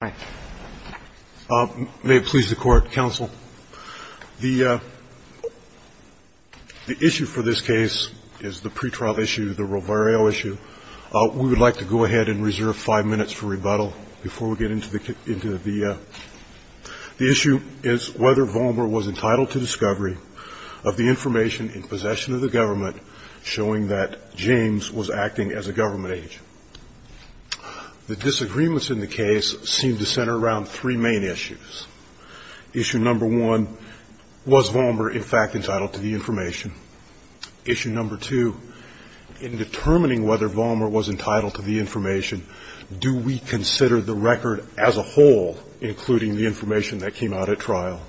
May it please the Court, Counsel, the issue for this case is the pre-trial issue, the Rovario issue. We would like to go ahead and reserve five minutes for rebuttal before we get into the issue is whether Valmer was entitled to discovery of the information in possession of the government showing that James was acting as a government agent. The disagreements in the case seem to center around three main issues. Issue number one, was Valmer in fact entitled to the information? Issue number two, in determining whether Valmer was entitled to the information, do we consider the record as a whole, including the information that came out at trial?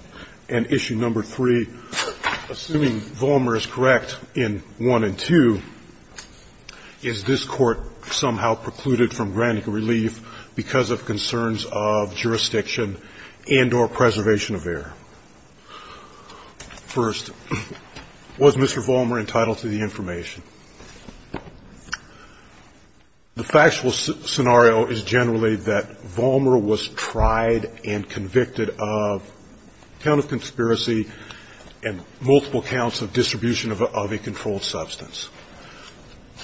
And issue number three, assuming Valmer is correct in one and two, is this Court somehow precluded from granting relief because of concerns of jurisdiction and or preservation of error? First, was Mr. Valmer entitled to the information? The factual scenario is generally that Valmer was tried and convicted of count of conspiracy and multiple counts of distribution of a controlled substance.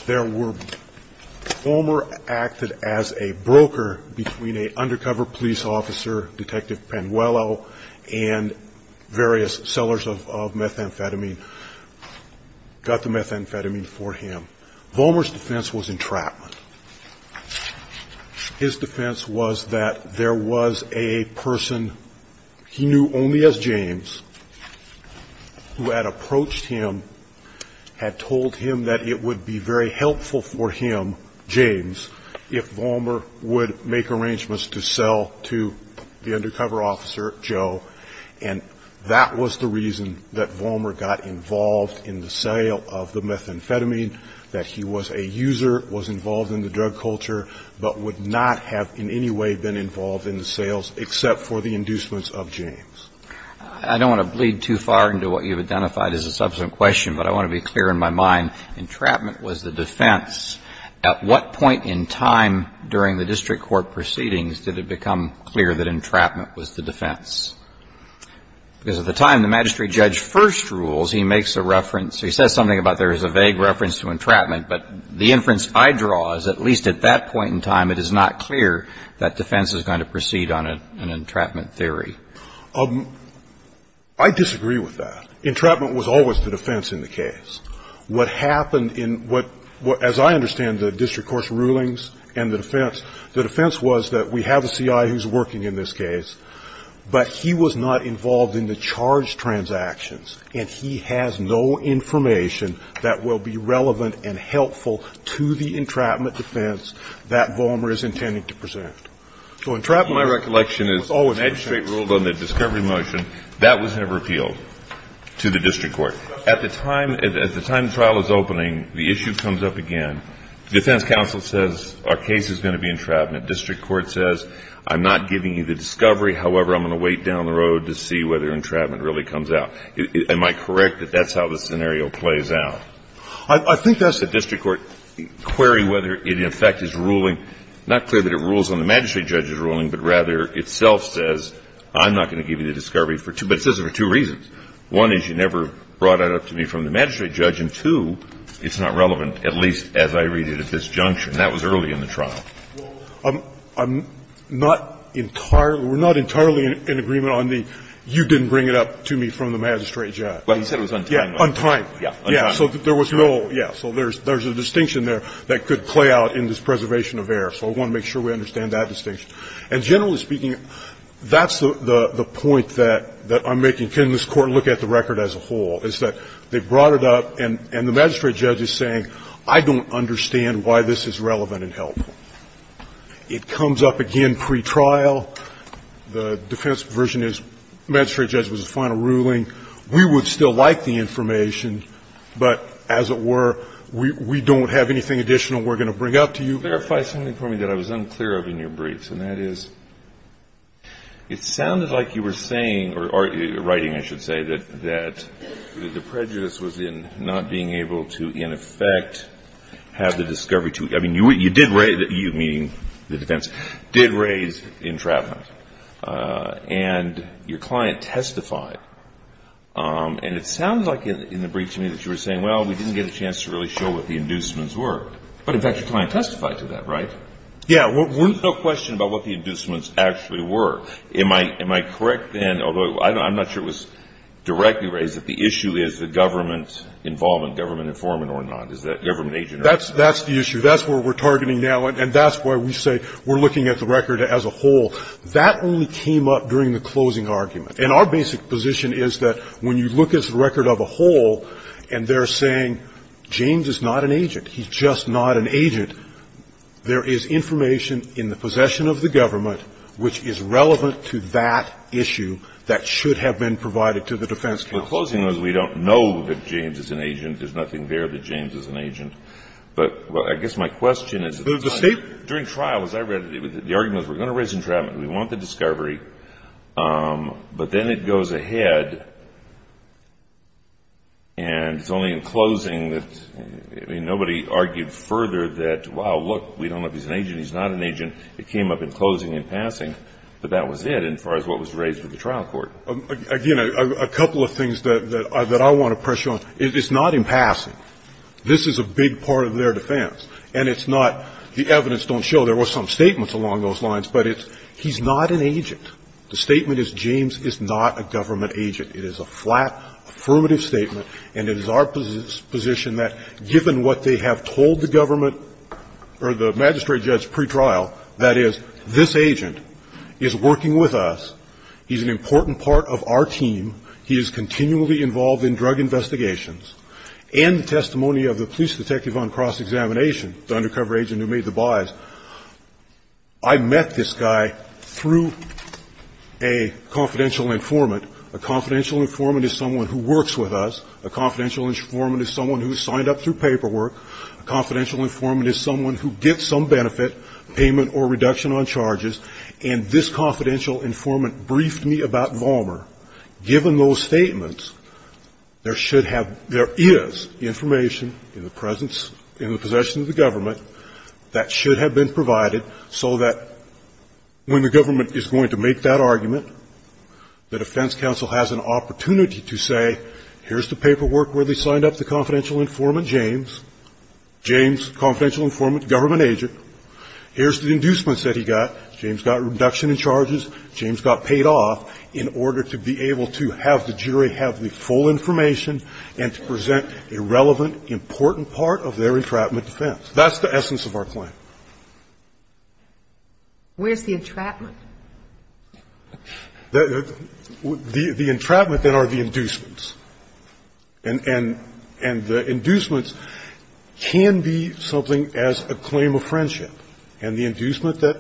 There were, Valmer acted as a broker between an undercover police officer, Detective Panuello, and various sellers of methamphetamine, got the methamphetamine for him. Valmer's defense was entrapment. His defense was that there was a person he knew only as helpful for him, James, if Valmer would make arrangements to sell to the undercover officer, Joe. And that was the reason that Valmer got involved in the sale of the methamphetamine, that he was a user, was involved in the drug culture, but would not have in any way been involved in the sales except for the inducements of James. I don't want to bleed too far into what you've identified as a subsequent question, but I want to make sure that I'm clear on that. I'm going to say that entrapment was the defense. At what point in time during the district court proceedings did it become clear that entrapment was the defense? Because at the time, the magistrate judge first rules, he makes a reference, he says something about there is a vague reference to entrapment, but the inference I draw is at least at that point in time, it is not clear that defense is going to proceed on an entrapment theory. I disagree with that. Entrapment was always the defense in the case. What happened in what, as I understand the district court's rulings and the defense, the defense was that we have a C.I. who's working in this case, but he was not involved in the and helpful to the entrapment defense that Vollmer is intending to present. So entrapment was always the defense. My recollection is the magistrate ruled on the discovery motion. That was never appealed to the district court. At the time the trial is opening, the issue comes up again. Defense counsel says our case is going to be entrapment. District court says I'm not giving you the discovery. However, I'm going to wait down the road to see whether entrapment really comes out. Am I correct that that's how the scenario plays out? I think that's the district court query whether it in effect is ruling, not clear that it rules on the magistrate judge's ruling, but rather itself says I'm not going to give you the discovery for two, but it says it for two reasons. One is you never brought it up to me from the magistrate judge, and, two, it's not relevant, at least as I read it at this junction. That was early in the trial. I'm not entirely, we're not entirely in agreement on the you didn't bring it up to me from the magistrate judge. Well, he said it was untimely. Yeah, untimely. Yeah, untimely. So there was no, yeah, so there's a distinction there that could play out in this preservation of error. So I want to make sure we understand that distinction. And generally speaking, that's the point that I'm making. Can this Court look at the record as a whole, is that they brought it up and the magistrate judge is saying I don't understand why this is relevant and helpful. It comes up again pre-trial, the defense version is magistrate judge was the final ruling, we would still like the information, but as it were, we don't have anything additional we're going to bring up to you. Verify something for me that I was unclear of in your briefs, and that is it sounded like you were saying, or writing I should say, that the prejudice was in not being able to, in effect, have the discovery to you. I mean, you did raise, you meaning the defense, did raise entrapment. And your client testified, and it sounds like in the brief to me that you were saying, well, we didn't get a chance to really show what the inducements were. But in fact, your client testified to that, right? Yeah. There's no question about what the inducements actually were. Am I correct then, although I'm not sure it was directly raised, that the issue is the government involvement, government informant or not, is that government agent or not? That's the issue. That's where we're targeting now, and that's why we say we're looking at the record as a whole. That only came up during the closing argument. And our basic position is that when you look at the record of a whole and they're saying James is not an agent, he's just not an agent, there is information in the possession of the government which is relevant to that issue that should have been provided to the defense counsel. The closing was we don't know that James is an agent. There's nothing there that James is an agent. But I guess my question is, during trial, as I read it, the argument was we're going to raise entrapment, we want the discovery, but then it goes ahead and it's only in closing that, I mean, nobody argued further that, wow, look, we don't know if he's an agent, he's not an agent, it came up in closing and passing, but that was it as far as what was raised with the trial court. Again, a couple of things that I want to pressure on. It's not in passing. This is a big part of their defense. And it's not, the evidence don't show there was some statements along those lines, but it's, he's not an agent. The statement is James is not a government agent. It is a flat, affirmative statement, and it is our position that given what they have told the government or the magistrate judge pretrial, that is, this agent is working with us, he's an important part of our team, he is continually involved in drug investigations, and the testimony of the police detective on cross-examination, the undercover agent who made the buys. I met this guy through a confidential informant. A confidential informant is someone who works with us. A confidential informant is someone who signed up through paperwork. A confidential informant is someone who gets some benefit, payment or reduction on charges, and this confidential informant briefed me about Vollmer. Given those statements, there should have, there is information in the presence, in the possession of the government that should have been provided so that when the government is going to make that argument, the defense counsel has an opportunity to say, here's the paperwork where they signed up the confidential informant, James. James, confidential informant, government agent. Here's the inducements that he got. James got reduction in charges. James got paid off in order to be able to have the jury have the full information and to present a relevant, important part of their entrapment defense. That's the essence of our claim. Where's the entrapment? The entrapment then are the inducements. And the inducements can be something as a claim of friendship. And the inducement that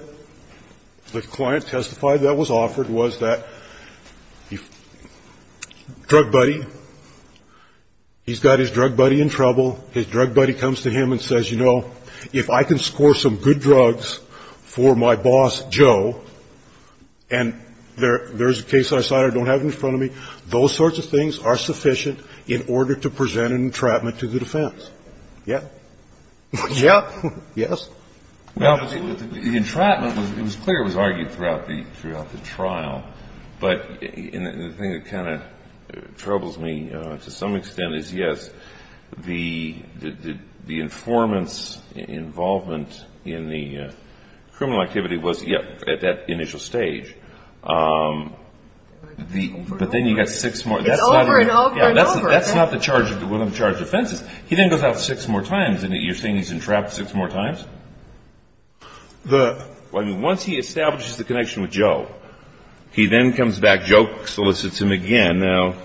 the client testified that was offered was that the drug buddy he's got his drug buddy in trouble. His drug buddy comes to him and says, you know, if I can score some good drugs for my boss, Joe, and there's a case I signed, I don't have it in front of me. Those sorts of things are sufficient in order to present an entrapment to the defense. Yeah. Yeah. Yes. Well, the entrapment, it was clear it was argued throughout the trial. But the thing that kind of troubles me to some extent is, yes, the informant's involvement in the criminal activity was, yeah, at that initial stage. But then you got six more. It's over and over and over. That's not the charge of the charge of offenses. He then goes out six more times and you're saying he's entrapped six more times? The. Well, I mean, once he establishes the connection with Joe, he then comes back, Joe solicits him again now,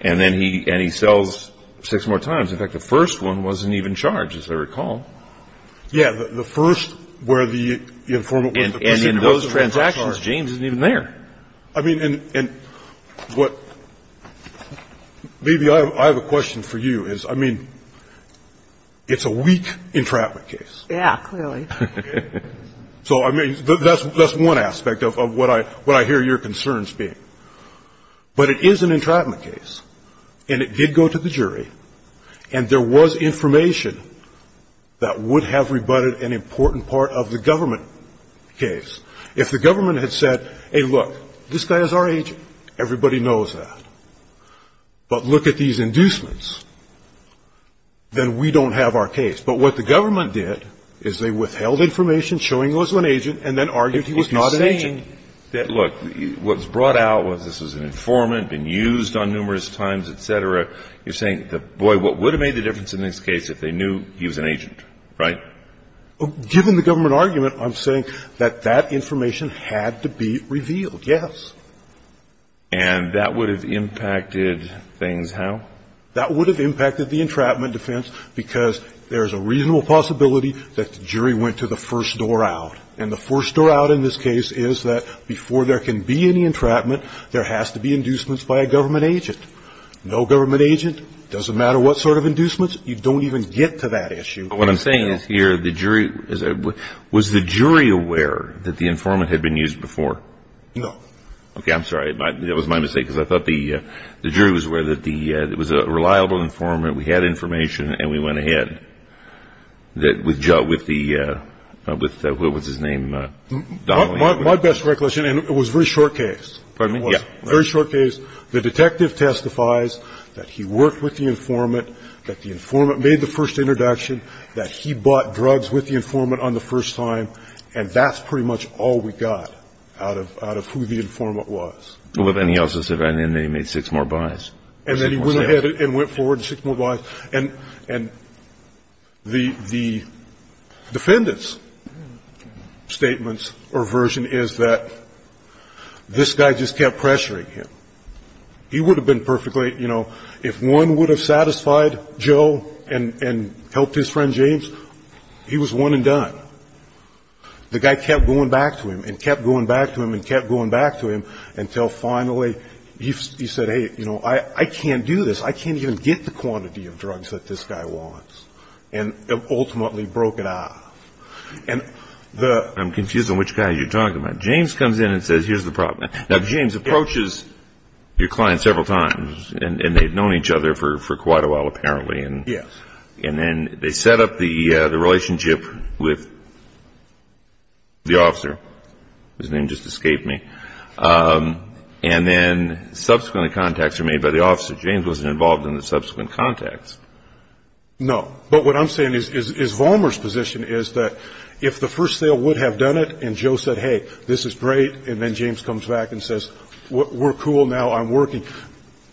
and then he and he sells six more times. In fact, the first one wasn't even charged, as I recall. Yeah. The first where the informant was the person who was charged. And in those transactions, James isn't even there. I mean, and what, maybe I have a question for you is, I mean, it's a weak entrapment case. Yeah, clearly. So, I mean, that's one aspect of what I hear your concerns being. But it is an entrapment case, and it did go to the jury, and there was information that would have rebutted an important part of the government case. If the government had said, hey, look, this guy is our agent, everybody knows that. But look at these inducements, then we don't have our case. But what the government did is they withheld information showing he was an agent and then argued he was not an agent. If you're saying that, look, what's brought out was this was an informant, been used on numerous times, et cetera, you're saying, boy, what would have made the difference in this case if they knew he was an agent, right? Given the government argument, I'm saying that that information had to be revealed, yes. And that would have impacted things how? That would have impacted the entrapment defense because there's a reasonable possibility that the jury went to the first door out. And the first door out in this case is that before there can be any entrapment, there has to be inducements by a government agent. No government agent, doesn't matter what sort of inducements, you don't even get to that issue. What I'm saying is here, was the jury aware that the informant had been used before? No. Okay, I'm sorry, that was my mistake because I thought the jury was aware that it was a reliable informant, we had information and we went ahead. With Joe, with the, what was his name, Donnelly? My best recollection, and it was a very short case. Pardon me? Yeah. Very short case. The detective testifies that he worked with the informant, that the informant made the first introduction, that he bought drugs with the informant on the first time. And that's pretty much all we got out of who the informant was. Well, then he also said, and then he made six more buys. And then he went ahead and went forward and six more buys. And the defendant's statements or version is that this guy just kept pressuring him. He would have been perfectly, you know, if one would have satisfied Joe and helped his friend James, he was one and done. The guy kept going back to him and kept going back to him and kept going back to him until finally he said, hey, you know, I can't do this. I can't even get the quantity of drugs that this guy wants. And ultimately broke it off. And the- I'm confused on which guy you're talking about. James comes in and says, here's the problem. Now, James approaches your client several times and they've known each other for quite a while, apparently. Yes. And then they set up the relationship with the officer. His name just escaped me. And then subsequent contacts were made by the officer. James wasn't involved in the subsequent contacts. No, but what I'm saying is Vollmer's position is that if the first sale would have done it and Joe said, hey, this is great, and then James comes back and says, we're cool now, I'm working.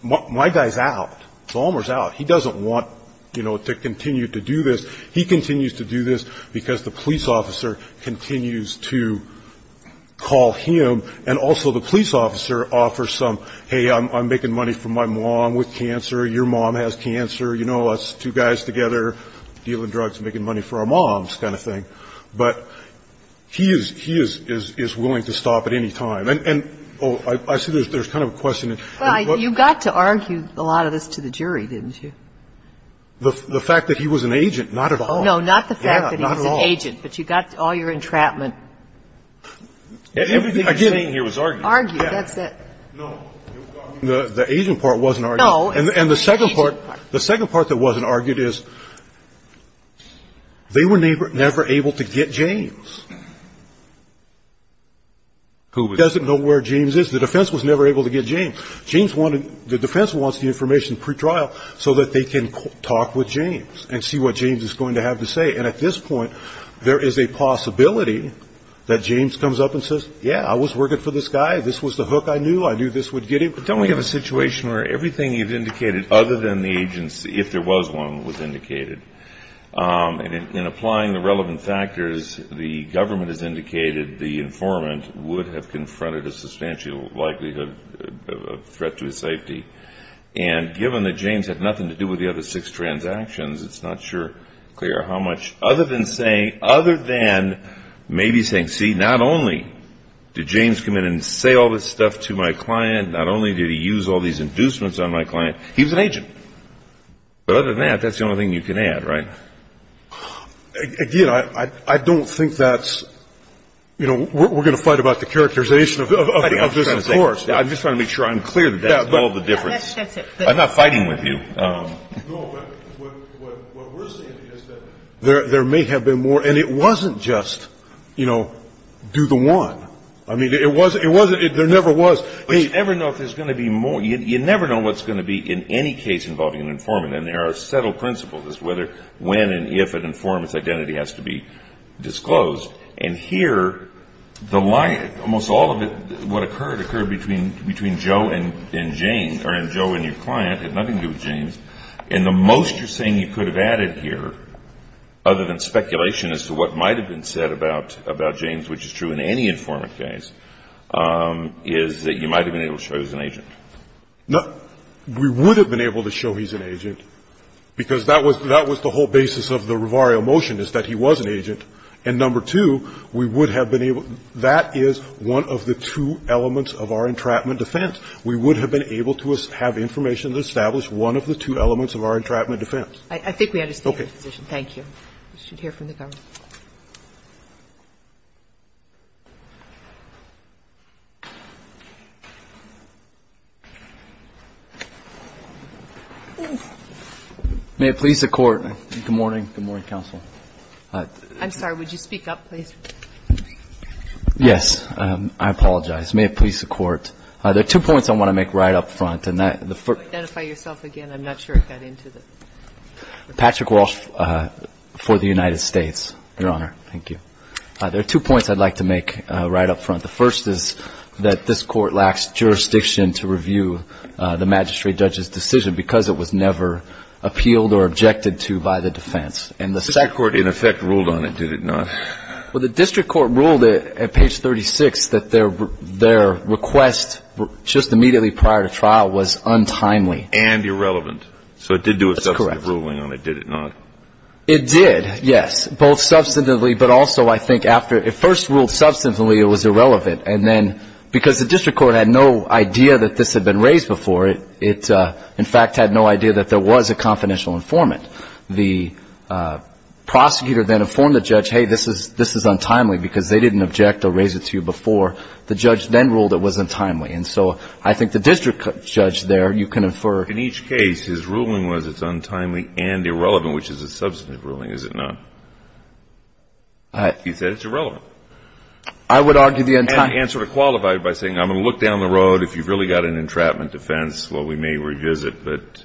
My guy's out. Vollmer's out. He doesn't want to continue to do this. He continues to do this because the police officer continues to call him. And also the police officer offers some, hey, I'm making money for my mom with cancer. Your mom has cancer. You know, us two guys together dealing drugs and making money for our moms kind of thing. But he is willing to stop at any time. And I see there's kind of a question. Well, you got to argue a lot of this to the jury, didn't you? The fact that he was an agent, not at all. No, not the fact that he was an agent. But you got all your entrapment. Everything you're saying here was argued. Argued, that's it. No, the agent part wasn't argued. And the second part that wasn't argued is they were never able to get James. Who was it? He doesn't know where James is. The defense was never able to get James. James wanted, the defense wants the information pre-trial so that they can talk with James and see what James is going to have to say. And at this point, there is a possibility that James comes up and says, yeah, I was working for this guy. This was the hook I knew. I knew this would get him. But don't we have a situation where everything you've indicated other than the agents, if there was one, was indicated. And in applying the relevant factors, the government has indicated the informant would have confronted a threat to his safety. And given that James had nothing to do with the other six transactions, it's not sure, Claire, how much. Other than saying, other than maybe saying, see, not only did James come in and say all this stuff to my client, not only did he use all these inducements on my client, he was an agent. But other than that, that's the only thing you can add, right? Again, I don't think that's, you know, we're going to fight about the characterization of this, of course. I'm just trying to make sure I'm clear that that's all the difference. I'm not fighting with you. No, what we're saying is that there may have been more. And it wasn't just, you know, do the one. I mean, it wasn't, there never was. You never know if there's going to be more. You never know what's going to be in any case involving an informant. And there are settled principles as to whether, when, and if an informant's identity has to be disclosed. And here, the lie, almost all of it, what occurred, occurred between Joe and Jane, or Joe and your client. It had nothing to do with James. And the most you're saying you could have added here, other than speculation as to what might have been said about James, which is true in any informant case, is that you might have been able to show he was an agent. No, we would have been able to show he's an agent. Because that was the whole basis of the Rivario motion, is that he was an agent. And number two, we would have been able to – that is one of the two elements of our entrapment defense. We would have been able to have information to establish one of the two elements of our entrapment defense. I think we understand your position. Thank you. We should hear from the government. May it please the Court. Good morning. Good morning, counsel. I'm sorry, would you speak up, please? Yes, I apologize. May it please the Court. There are two points I want to make right up front. Identify yourself again. I'm not sure I got into it. Patrick Walsh for the United States, Your Honor. Thank you. There are two points I'd like to make right up front. The first is that this Court lacks jurisdiction to review the magistrate judge's decision because it was never appealed or objected to by the defense. The district court, in effect, ruled on it, did it not? Well, the district court ruled at page 36 that their request just immediately prior to trial was untimely. And irrelevant. So it did do a substantive ruling on it, did it not? It did, yes. Both substantively, but also, I think, after it first ruled substantively, it was irrelevant. And then because the district court had no idea that this had been raised before, it, in fact, had no idea that there was a confidential informant. The prosecutor then informed the judge, hey, this is untimely because they didn't object or raise it to you before. The judge then ruled it was untimely. And so I think the district judge there, you can infer. In each case, his ruling was it's untimely and irrelevant, which is a substantive ruling, is it not? He said it's irrelevant. I would argue the untimely. And sort of qualified by saying, I'm going to look down the road. If you've really got an entrapment defense, well, we may revisit. But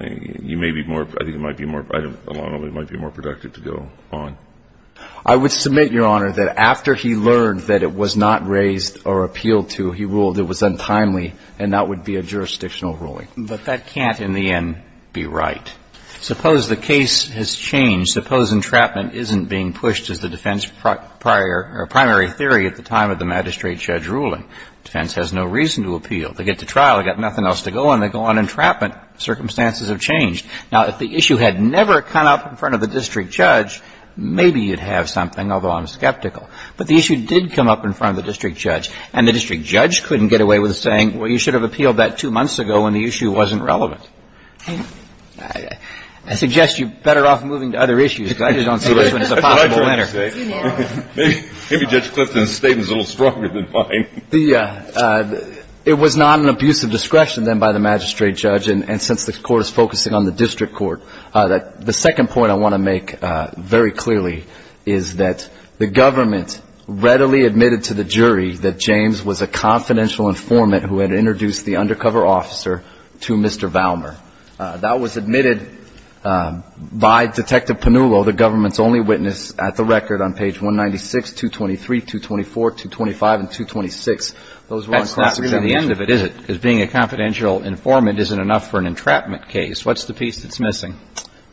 you may be more, I think it might be more, I don't know, it might be more productive to go on. I would submit, Your Honor, that after he learned that it was not raised or appealed to, he ruled it was untimely, and that would be a jurisdictional ruling. But that can't, in the end, be right. Suppose the case has changed. Suppose entrapment isn't being pushed as the defense prior, or primary theory at the time of the magistrate judge ruling. Defense has no reason to appeal. They get to trial. They've got nothing else to go on. They go on entrapment. Circumstances have changed. Now, if the issue had never come up in front of the district judge, maybe you'd have something, although I'm skeptical. But the issue did come up in front of the district judge. And the district judge couldn't get away with saying, well, you should have appealed that two months ago when the issue wasn't relevant. I suggest you're better off moving to other issues, because I just don't see this one as a possible winner. Maybe Judge Clifton's statement is a little stronger than mine. The, it was not an abuse of discretion, then, by the magistrate judge. And since the court is focusing on the district court, the second point I want to make very clearly is that the government readily admitted to the jury that James was a confidential informant who had introduced the undercover officer to Mr. Valmer. That was admitted by Detective Panullo, the government's only witness, at the record on page 196, 223, 224, 225, and 226. Those were unclassified. That's not really the end of it, is it? Because being a confidential informant isn't enough for an entrapment case. What's the piece that's missing?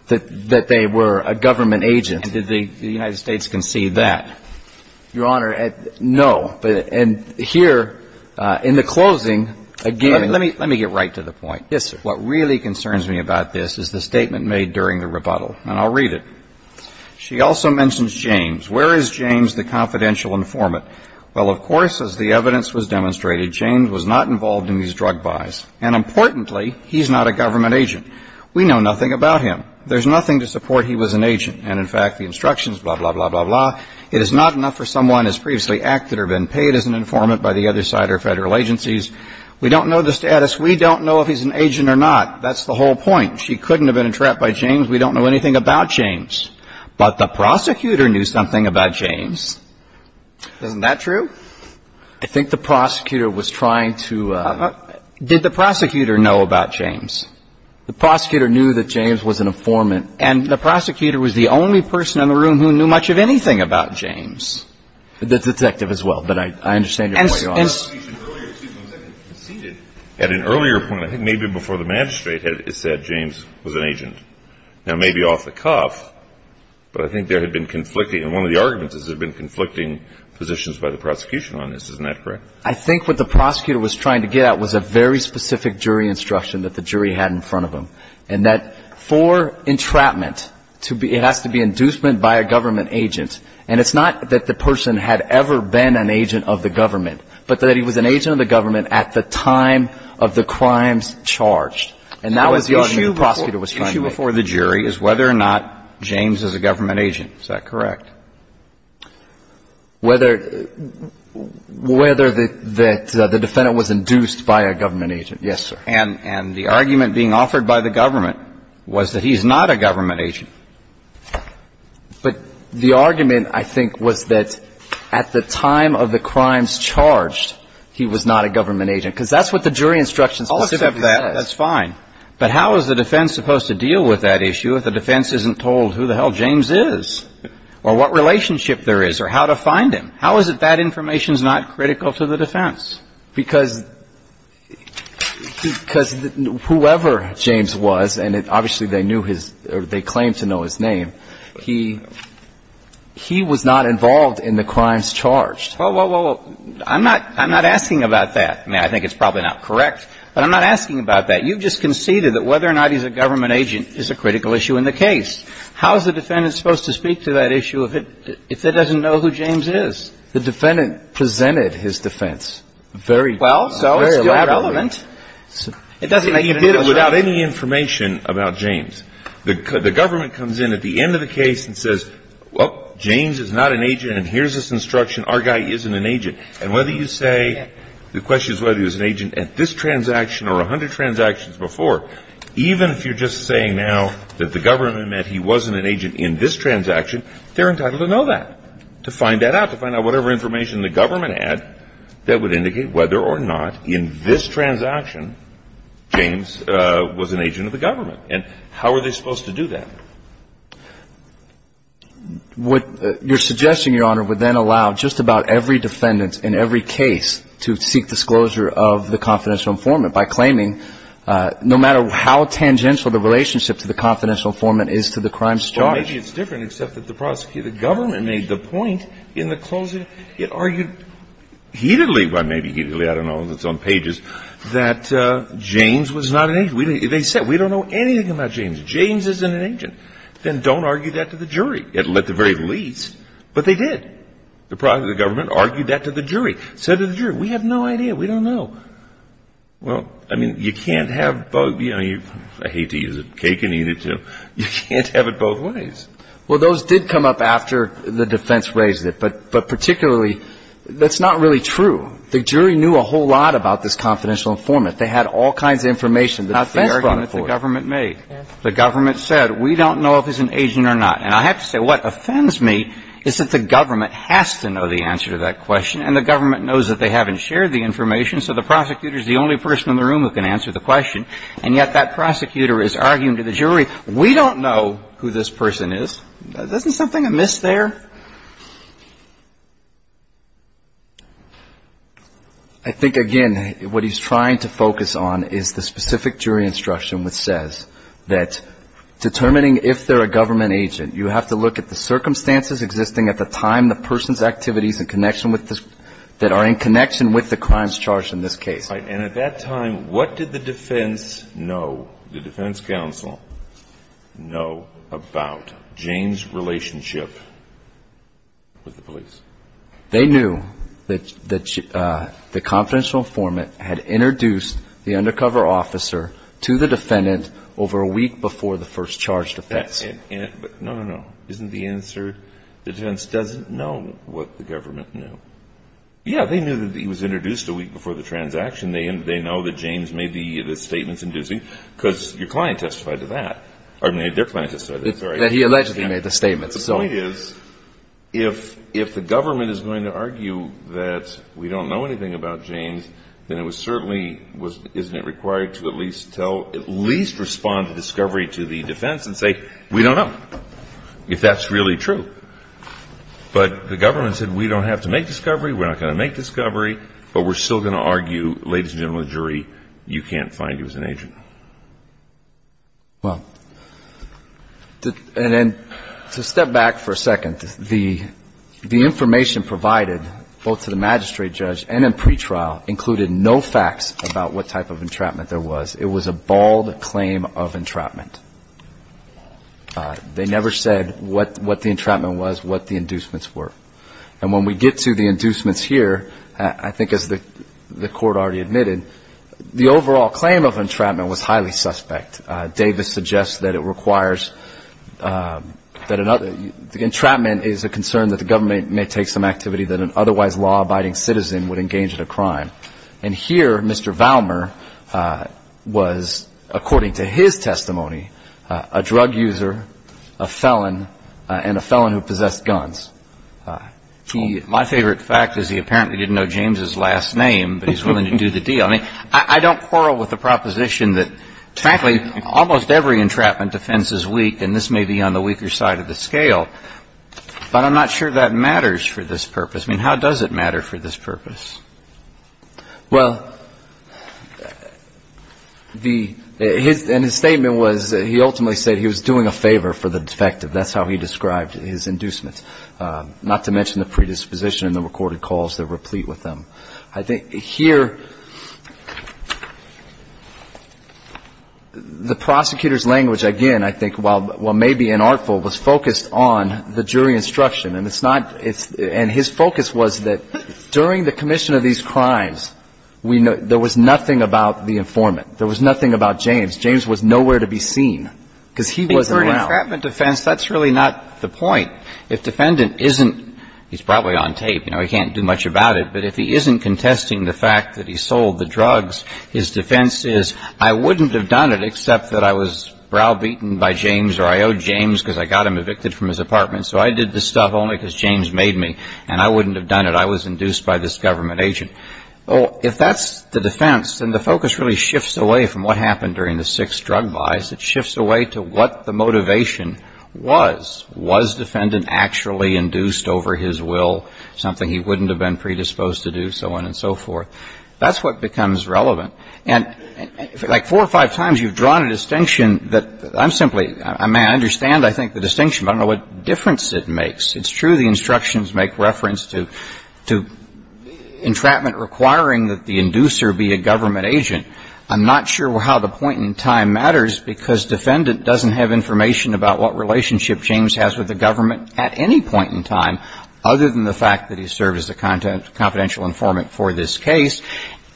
That they were a government agent. And did the United States concede that? Your Honor, no. But, and here, in the closing, again. Let me, let me get right to the point. Yes, sir. What really concerns me about this is the statement made during the rebuttal. And I'll read it. She also mentions James. Where is James the confidential informant? Well, of course, as the evidence was demonstrated, James was not involved in these drug buys. And importantly, he's not a government agent. We know nothing about him. There's nothing to support he was an agent. And in fact, the instructions, blah, blah, blah, blah, blah, it is not enough for someone who has previously acted or been paid as an informant by the other side or federal agencies. We don't know the status. We don't know if he's an agent or not. That's the whole point. She couldn't have been entrapped by James. We don't know anything about James. But the prosecutor knew something about James. Isn't that true? I think the prosecutor was trying to. Did the prosecutor know about James? The prosecutor knew that James was an informant. And the prosecutor was the only person in the room who knew much of anything about James. The detective as well. But I understand your point, Your Honor. At an earlier point, I think maybe before the magistrate had said James was an agent. Now, maybe off the cuff, but I think there had been conflicting. And one of the arguments is there had been conflicting positions by the prosecution on this. Isn't that correct? I think what the prosecutor was trying to get at was a very specific jury instruction that the jury had in front of him. And that for entrapment to be, it has to be inducement by a government agent. And it's not that the person had ever been an agent of the government, but that he was an agent of the government at the time of the crimes charged. And that was the argument the prosecutor was trying to make. The issue before the jury is whether or not James is a government agent. Is that correct? Whether the defendant was induced by a government agent, yes, sir. And the argument being offered by the government was that he's not a government agent. But the argument, I think, was that at the time of the crimes charged, he was not a government agent. Because that's what the jury instruction specifically says. That's fine. But how is the defense supposed to deal with that issue if the defense isn't told who the hell James is or what relationship there is or how to find him? How is it that information is not critical to the defense? Because whoever James was, and obviously they knew his or they claimed to know his name, he was not involved in the crimes charged. Well, I'm not asking about that. I mean, I think it's probably not correct, but I'm not asking about that. You've just conceded that whether or not he's a government agent is a critical issue in the case. How is the defendant supposed to speak to that issue if it doesn't know who James is? The defendant presented his defense very elaborately. Well, so it's still relevant. It doesn't make any difference. Without any information about James, the government comes in at the end of the case and says, well, James is not an agent and here's this instruction. Our guy isn't an agent. And whether you say, the question is whether he was an agent at this transaction or a hundred transactions before, even if you're just saying now that the government meant he wasn't an agent in this transaction, they're entitled to know that, to find that out, to find out whatever information the government had that would indicate whether or not in this transaction, James was an agent of the government. And how are they supposed to do that? Your suggestion, Your Honor, would then allow just about every defendant in every case to seek disclosure of the confidential informant by claiming, no matter how tangential the relationship to the confidential informant is to the crime charge. Well, maybe it's different except that the prosecutor, the government made the point in the closing, it argued heatedly, well, maybe heatedly, I don't know if it's on pages, that James was not an agent. They said, we don't know anything about James. James isn't an agent. Then don't argue that to the jury, at the very least. But they did. The government argued that to the jury. Said to the jury, we have no idea, we don't know. Well, I mean, you can't have both, you know, I hate to use a cake and eat it too, you can't have it both ways. Well, those did come up after the defense raised it. But particularly, that's not really true. The jury knew a whole lot about this confidential informant. They had all kinds of information. Not the argument the government made. The government said, we don't know if he's an agent or not. And I have to say, what offends me is that the government has to know the answer to that question, and the government knows that they haven't shared the information, so the prosecutor is the only person in the room who can answer the question. And yet that prosecutor is arguing to the jury, we don't know who this person is. Isn't something amiss there? I think, again, what he's trying to focus on is the specific jury instruction which says that determining if they're a government agent, you have to look at the circumstances existing at the time the person's activities that are in connection with the crimes charged in this case. Right. And at that time, what did the defense know, the defense counsel know about Jane's relationship with the police? They knew that the confidential informant had introduced the undercover officer to the defendant over a week before the first charge defense. But no, no, no, isn't the answer, the defense doesn't know what the government knew. Yeah, they knew that he was introduced a week before the transaction, they know that James made the statements in Disney, because your client testified to that, or their client testified to that, sorry. That he allegedly made the statements. The point is, if the government is going to argue that we don't know anything about James, then it was certainly, isn't it required to at least tell, at least respond to discovery to the defense and say, we don't know, if that's really true. But the government said, we don't have to make discovery, we're not going to make discovery, but we're still going to argue, ladies and gentlemen of the jury, you can't find him as an agent. Well, and then to step back for a second, the information provided, both to the magistrate judge and in pretrial, included no facts about what type of entrapment there was. It was a bald claim of entrapment. They never said what the entrapment was, what the inducements were. And when we get to the inducements here, I think as the court already admitted, the overall claim of entrapment was highly suspect. Davis suggests that it requires, that entrapment is a concern that the government may take some activity that an otherwise law-abiding citizen would engage in a crime. And here, Mr. Valmer was, according to his testimony, a drug user, a felon, and a felon who possessed guns. My favorite fact is he apparently didn't know James's last name, but he's willing to do the deal. I mean, I don't quarrel with the proposition that, frankly, almost every entrapment defense is weak, and this may be on the weaker side of the scale, but I'm not sure that matters for this purpose. I mean, how does it matter for this purpose? Well, the, his, and his statement was, he ultimately said he was doing a favor for the defective. That's how he described his inducement, not to mention the predisposition and the recorded calls that replete with them. I think here, the prosecutor's language, again, I think while, while maybe inartful, was focused on the jury instruction. And it's not, it's, and his focus was that during the commission of these crimes, we know, there was nothing about the informant. There was nothing about James. James was nowhere to be seen, because he wasn't around. I think for an entrapment defense, that's really not the point. If defendant isn't, he's probably on tape, you know, he can't do much about it, but if he isn't contesting the fact that he sold the drugs, his defense is, I wouldn't have done it except that I was browbeaten by James or I owed James because I got him evicted from his apartment. So I did this stuff only because James made me, and I wouldn't have done it. I was induced by this government agent. Well, if that's the defense, then the focus really shifts away from what happened during the six drug buys. It shifts away to what the motivation was. Was defendant actually induced over his will, something he wouldn't have been predisposed to do, so on and so forth. That's what becomes relevant. And like four or five times, you've drawn a distinction that I'm simply, I mean, I understand, I think, the distinction, but I don't know what difference it makes. It's true the instructions make reference to entrapment requiring that the inducer be a government agent. I'm not sure how the point in time matters because defendant doesn't have information about what relationship James has with the government at any point in time other than the fact that he served as the confidential informant for this case,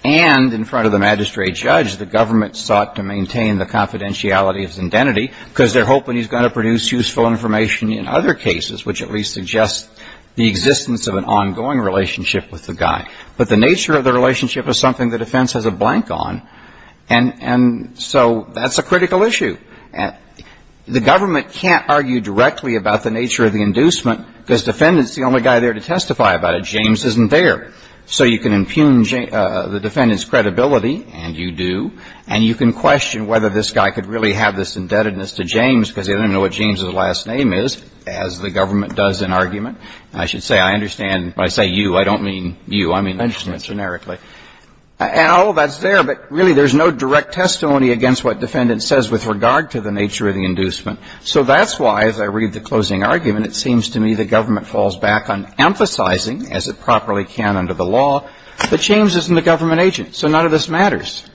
and in front of the magistrate judge, the government sought to maintain the confidentiality and identity because they're hoping he's going to produce useful information in other cases, which at least suggests the existence of an ongoing relationship with the guy. But the nature of the relationship is something the defense has a blank on, and so that's a critical issue. The government can't argue directly about the nature of the inducement because defendant is the only guy there to testify about it. James isn't there. So you can impugn the defendant's credibility, and you do, and you can question whether this guy could really have this indebtedness to James because they don't know what James's last name is, as the government does in argument. And I should say I understand when I say you, I don't mean you. I mean I understand it generically. And all of that's there, but really there's no direct testimony against what defendant says with regard to the nature of the inducement. So that's why, as I read the closing argument, it seems to me the government falls back on emphasizing, as it properly can under the law, that James isn't a government agent, so none of this matters.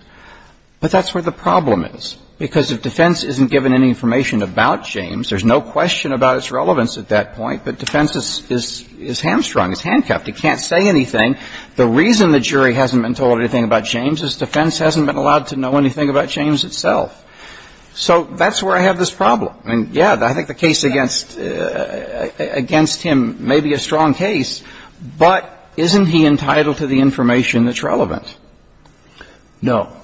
But that's where the problem is. Because if defense isn't given any information about James, there's no question about its relevance at that point, but defense is hamstrung, is handcuffed. It can't say anything. The reason the jury hasn't been told anything about James is defense hasn't been allowed to know anything about James itself. So that's where I have this problem. I mean, yeah, I think the case against him may be a strong case, but isn't he entitled to the information that's relevant? No.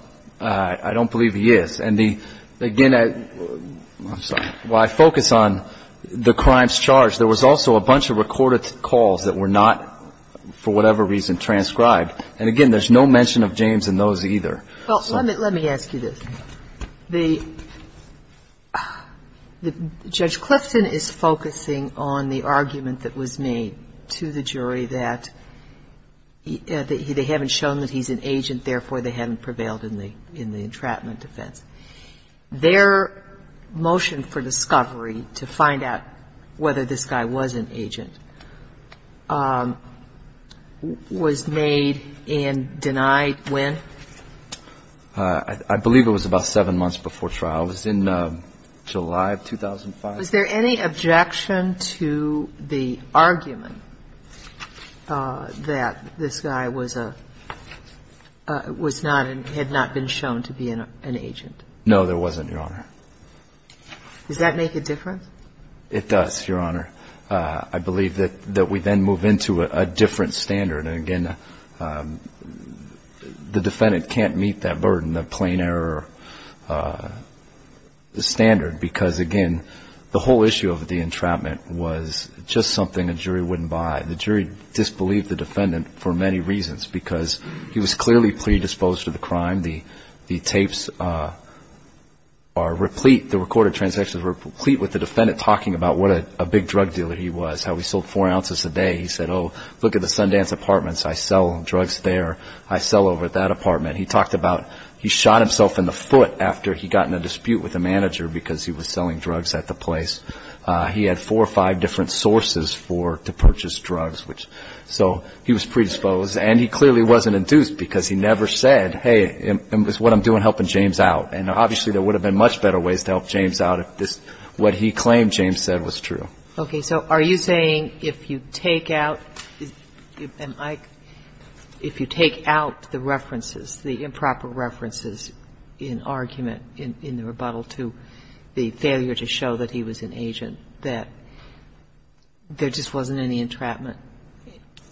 I don't believe he is. And again, while I focus on the crimes charged, there was also a bunch of recorded calls that were not, for whatever reason, transcribed. And again, there's no mention of James in those either. Well, let me ask you this. Judge Clifton is focusing on the argument that was made to the jury that they haven't shown that he's an agent, therefore they haven't prevailed in the entrapment defense. Their motion for discovery to find out whether this guy was an agent was made and denied when? I believe it was about seven months before trial. It was in July of 2005. Was there any objection to the argument that this guy was a, was not, had not been shown to be an agent? No, there wasn't, Your Honor. Does that make a difference? It does, Your Honor. I believe that we then move into a different standard. And again, the defendant can't meet that burden, the plain error standard, because again, the whole issue of the entrapment was just something a jury wouldn't buy. The jury disbelieved the defendant for many reasons, because he was clearly predisposed to the crime. The tapes are replete, the recorded transactions are replete with the defendant talking about what a big drug dealer he was, how he sold four ounces a day. He said, oh, look at the Sundance apartments. I sell drugs there. I sell over at that apartment. He talked about, he shot himself in the foot after he got in a dispute with the manager because he was selling drugs at the place. He had four or five different sources for, to purchase drugs, which, so he was predisposed. And he clearly wasn't induced, because he never said, hey, this is what I'm doing, helping James out. And obviously, there would have been much better ways to help James out if what he claimed James said was true. OK. So are you saying if you take out the references, the improper references in argument in the rebuttal to the failure to show that he was an agent, that there just wasn't any entrapment?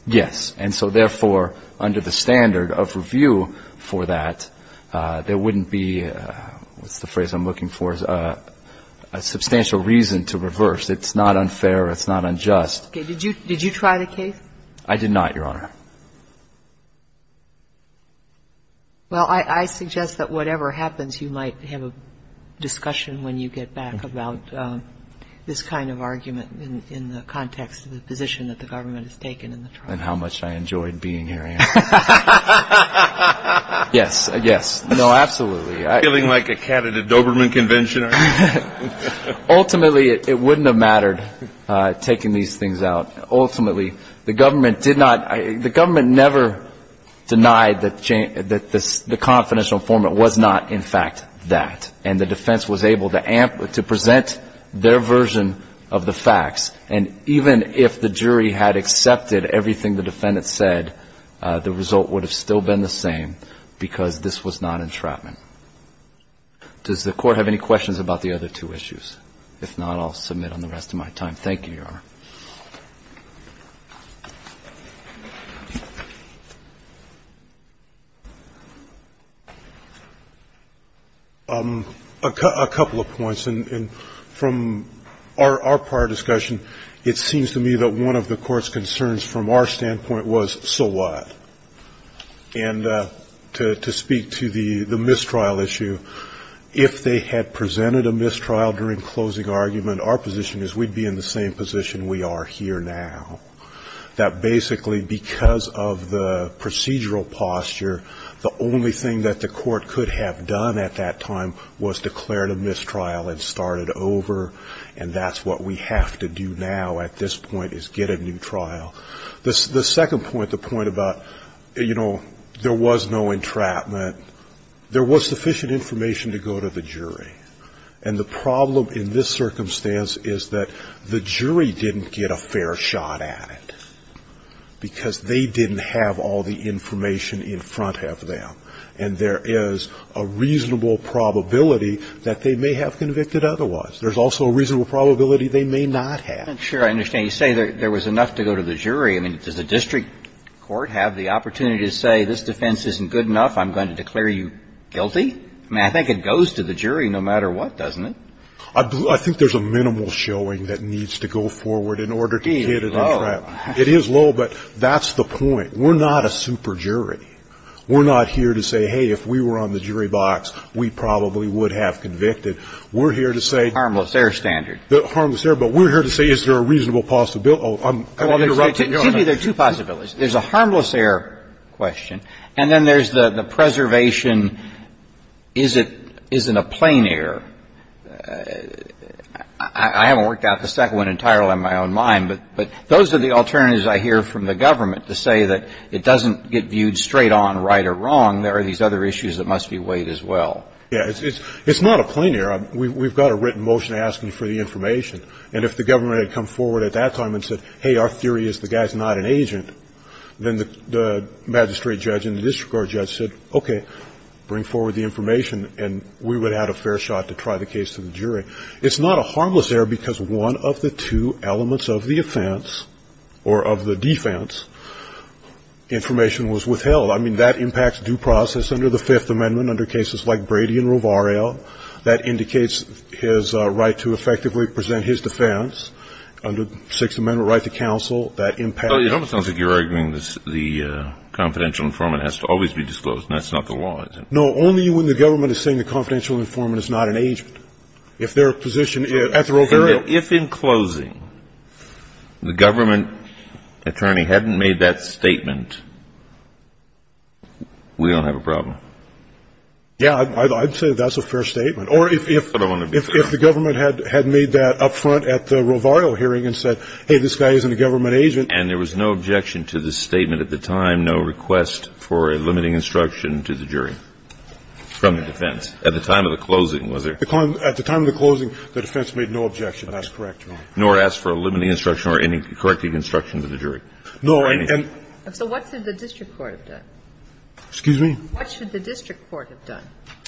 Yes. And so, therefore, under the standard of review for that, there wouldn't be, what's the phrase I'm looking for, a substantial reason to reverse. It's not unfair. It's not unjust. Did you try the case? I did not, Your Honor. Well, I suggest that whatever happens, you might have a discussion when you get back about this kind of argument in the context of the position that the government has taken in the trial. And how much I enjoyed being here, Your Honor. Yes. Yes. No, absolutely. Feeling like a cat at a Doberman convention, are you? Ultimately, it wouldn't have mattered taking these things out. Ultimately, the government never denied that the confidential informant was not, in fact, that. And the defense was able to present their version of the facts. And even if the jury had accepted everything the defendant said, the result would have still been the same because this was not entrapment. Does the Court have any questions about the other two issues? If not, I'll submit on the rest of my time. Thank you, Your Honor. A couple of points. And from our prior discussion, it seems to me that one of the Court's concerns from our standpoint was, so what? And to speak to the mistrial issue, if they had presented a mistrial during closing argument, our position is we'd be in the same position we are here now, that basically because of the procedural posture, the only thing that the Court could have done at that time was declared a mistrial and start it over. And that's what we have to do now at this point is get a new trial. The second point, the point about, you know, there was no entrapment, there was sufficient information to go to the jury. And the problem in this circumstance is that the jury didn't get a fair shot at it because they didn't have all the information in front of them. And there is a reasonable probability that they may have convicted otherwise. There's also a reasonable probability they may not have. I'm sure I understand. You say there was enough to go to the jury. I mean, does the district court have the opportunity to say, this defense isn't good enough, I'm going to declare you guilty? I mean, I think it goes to the jury no matter what, doesn't it? I think there's a minimal showing that needs to go forward in order to get it entrapped. It is low, but that's the point. We're not a super jury. We're not here to say, hey, if we were on the jury box, we probably would have convicted. We're here to say. Harmless air standard. Harmless air, but we're here to say, is there a reasonable possibility? I'm going to interrupt you. Excuse me, there are two possibilities. There's a harmless air question, and then there's the preservation, is it, is it a plain air? I haven't worked out the second one entirely in my own mind, but those are the alternatives I hear from the government to say that it doesn't get viewed straight on, right or wrong. There are these other issues that must be weighed as well. Yeah, it's not a plain air. We've got a written motion asking for the information, and if the government had come forward at that time and said, hey, our theory is the guy's not an agent, then the magistrate judge and the district court judge said, okay, bring forward the information, and we would add a fair shot to try the case to the jury. It's not a harmless air because one of the two elements of the offense, or of the defense, information was withheld. I mean, that impacts due process under the Fifth Amendment under cases like Brady and Rovarel. That indicates his right to effectively present his defense under Sixth Amendment right to counsel. That impacts. Well, it almost sounds like you're arguing that the confidential informant has to always be disclosed, and that's not the law, is it? No, only when the government is saying the confidential informant is not an agent. If their position is, at the Rovarel. If in closing, the government attorney hadn't made that statement, we don't have a problem. Yeah, I'd say that's a fair statement, or if the government had made that up front at the Rovarel hearing and said, hey, this guy isn't a government agent. And there was no objection to the statement at the time, no request for a limiting instruction to the jury from the defense. At the time of the closing, was there? At the time of the closing, the defense made no objection. That's correct. Nor ask for a limiting instruction or any correcting instruction to the jury. No, and. So what should the district court have done? Excuse me? What should the district court have done?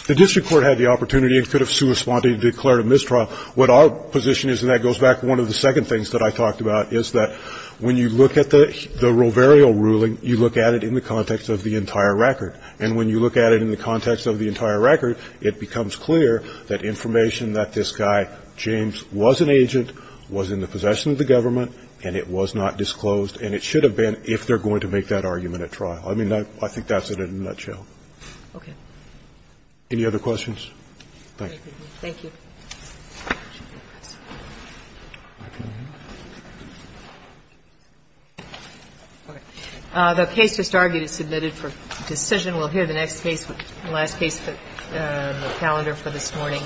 The district court had the opportunity and could have sui sponte declared a mistrial. What our position is, and that goes back to one of the second things that I talked about, is that when you look at the Rovarel ruling, you look at it in the context of the entire record, and when you look at it in the context of the entire record, it becomes clear that information that this guy, James, was an agent, was in the possession of the government, and it was not disclosed, and it should have been if they're going to make that argument at trial. I mean, I think that's it in a nutshell. Okay. Any other questions? Thank you. Thank you. The case just argued is submitted for decision. We'll hear the next case, the last case, the calendar for this morning.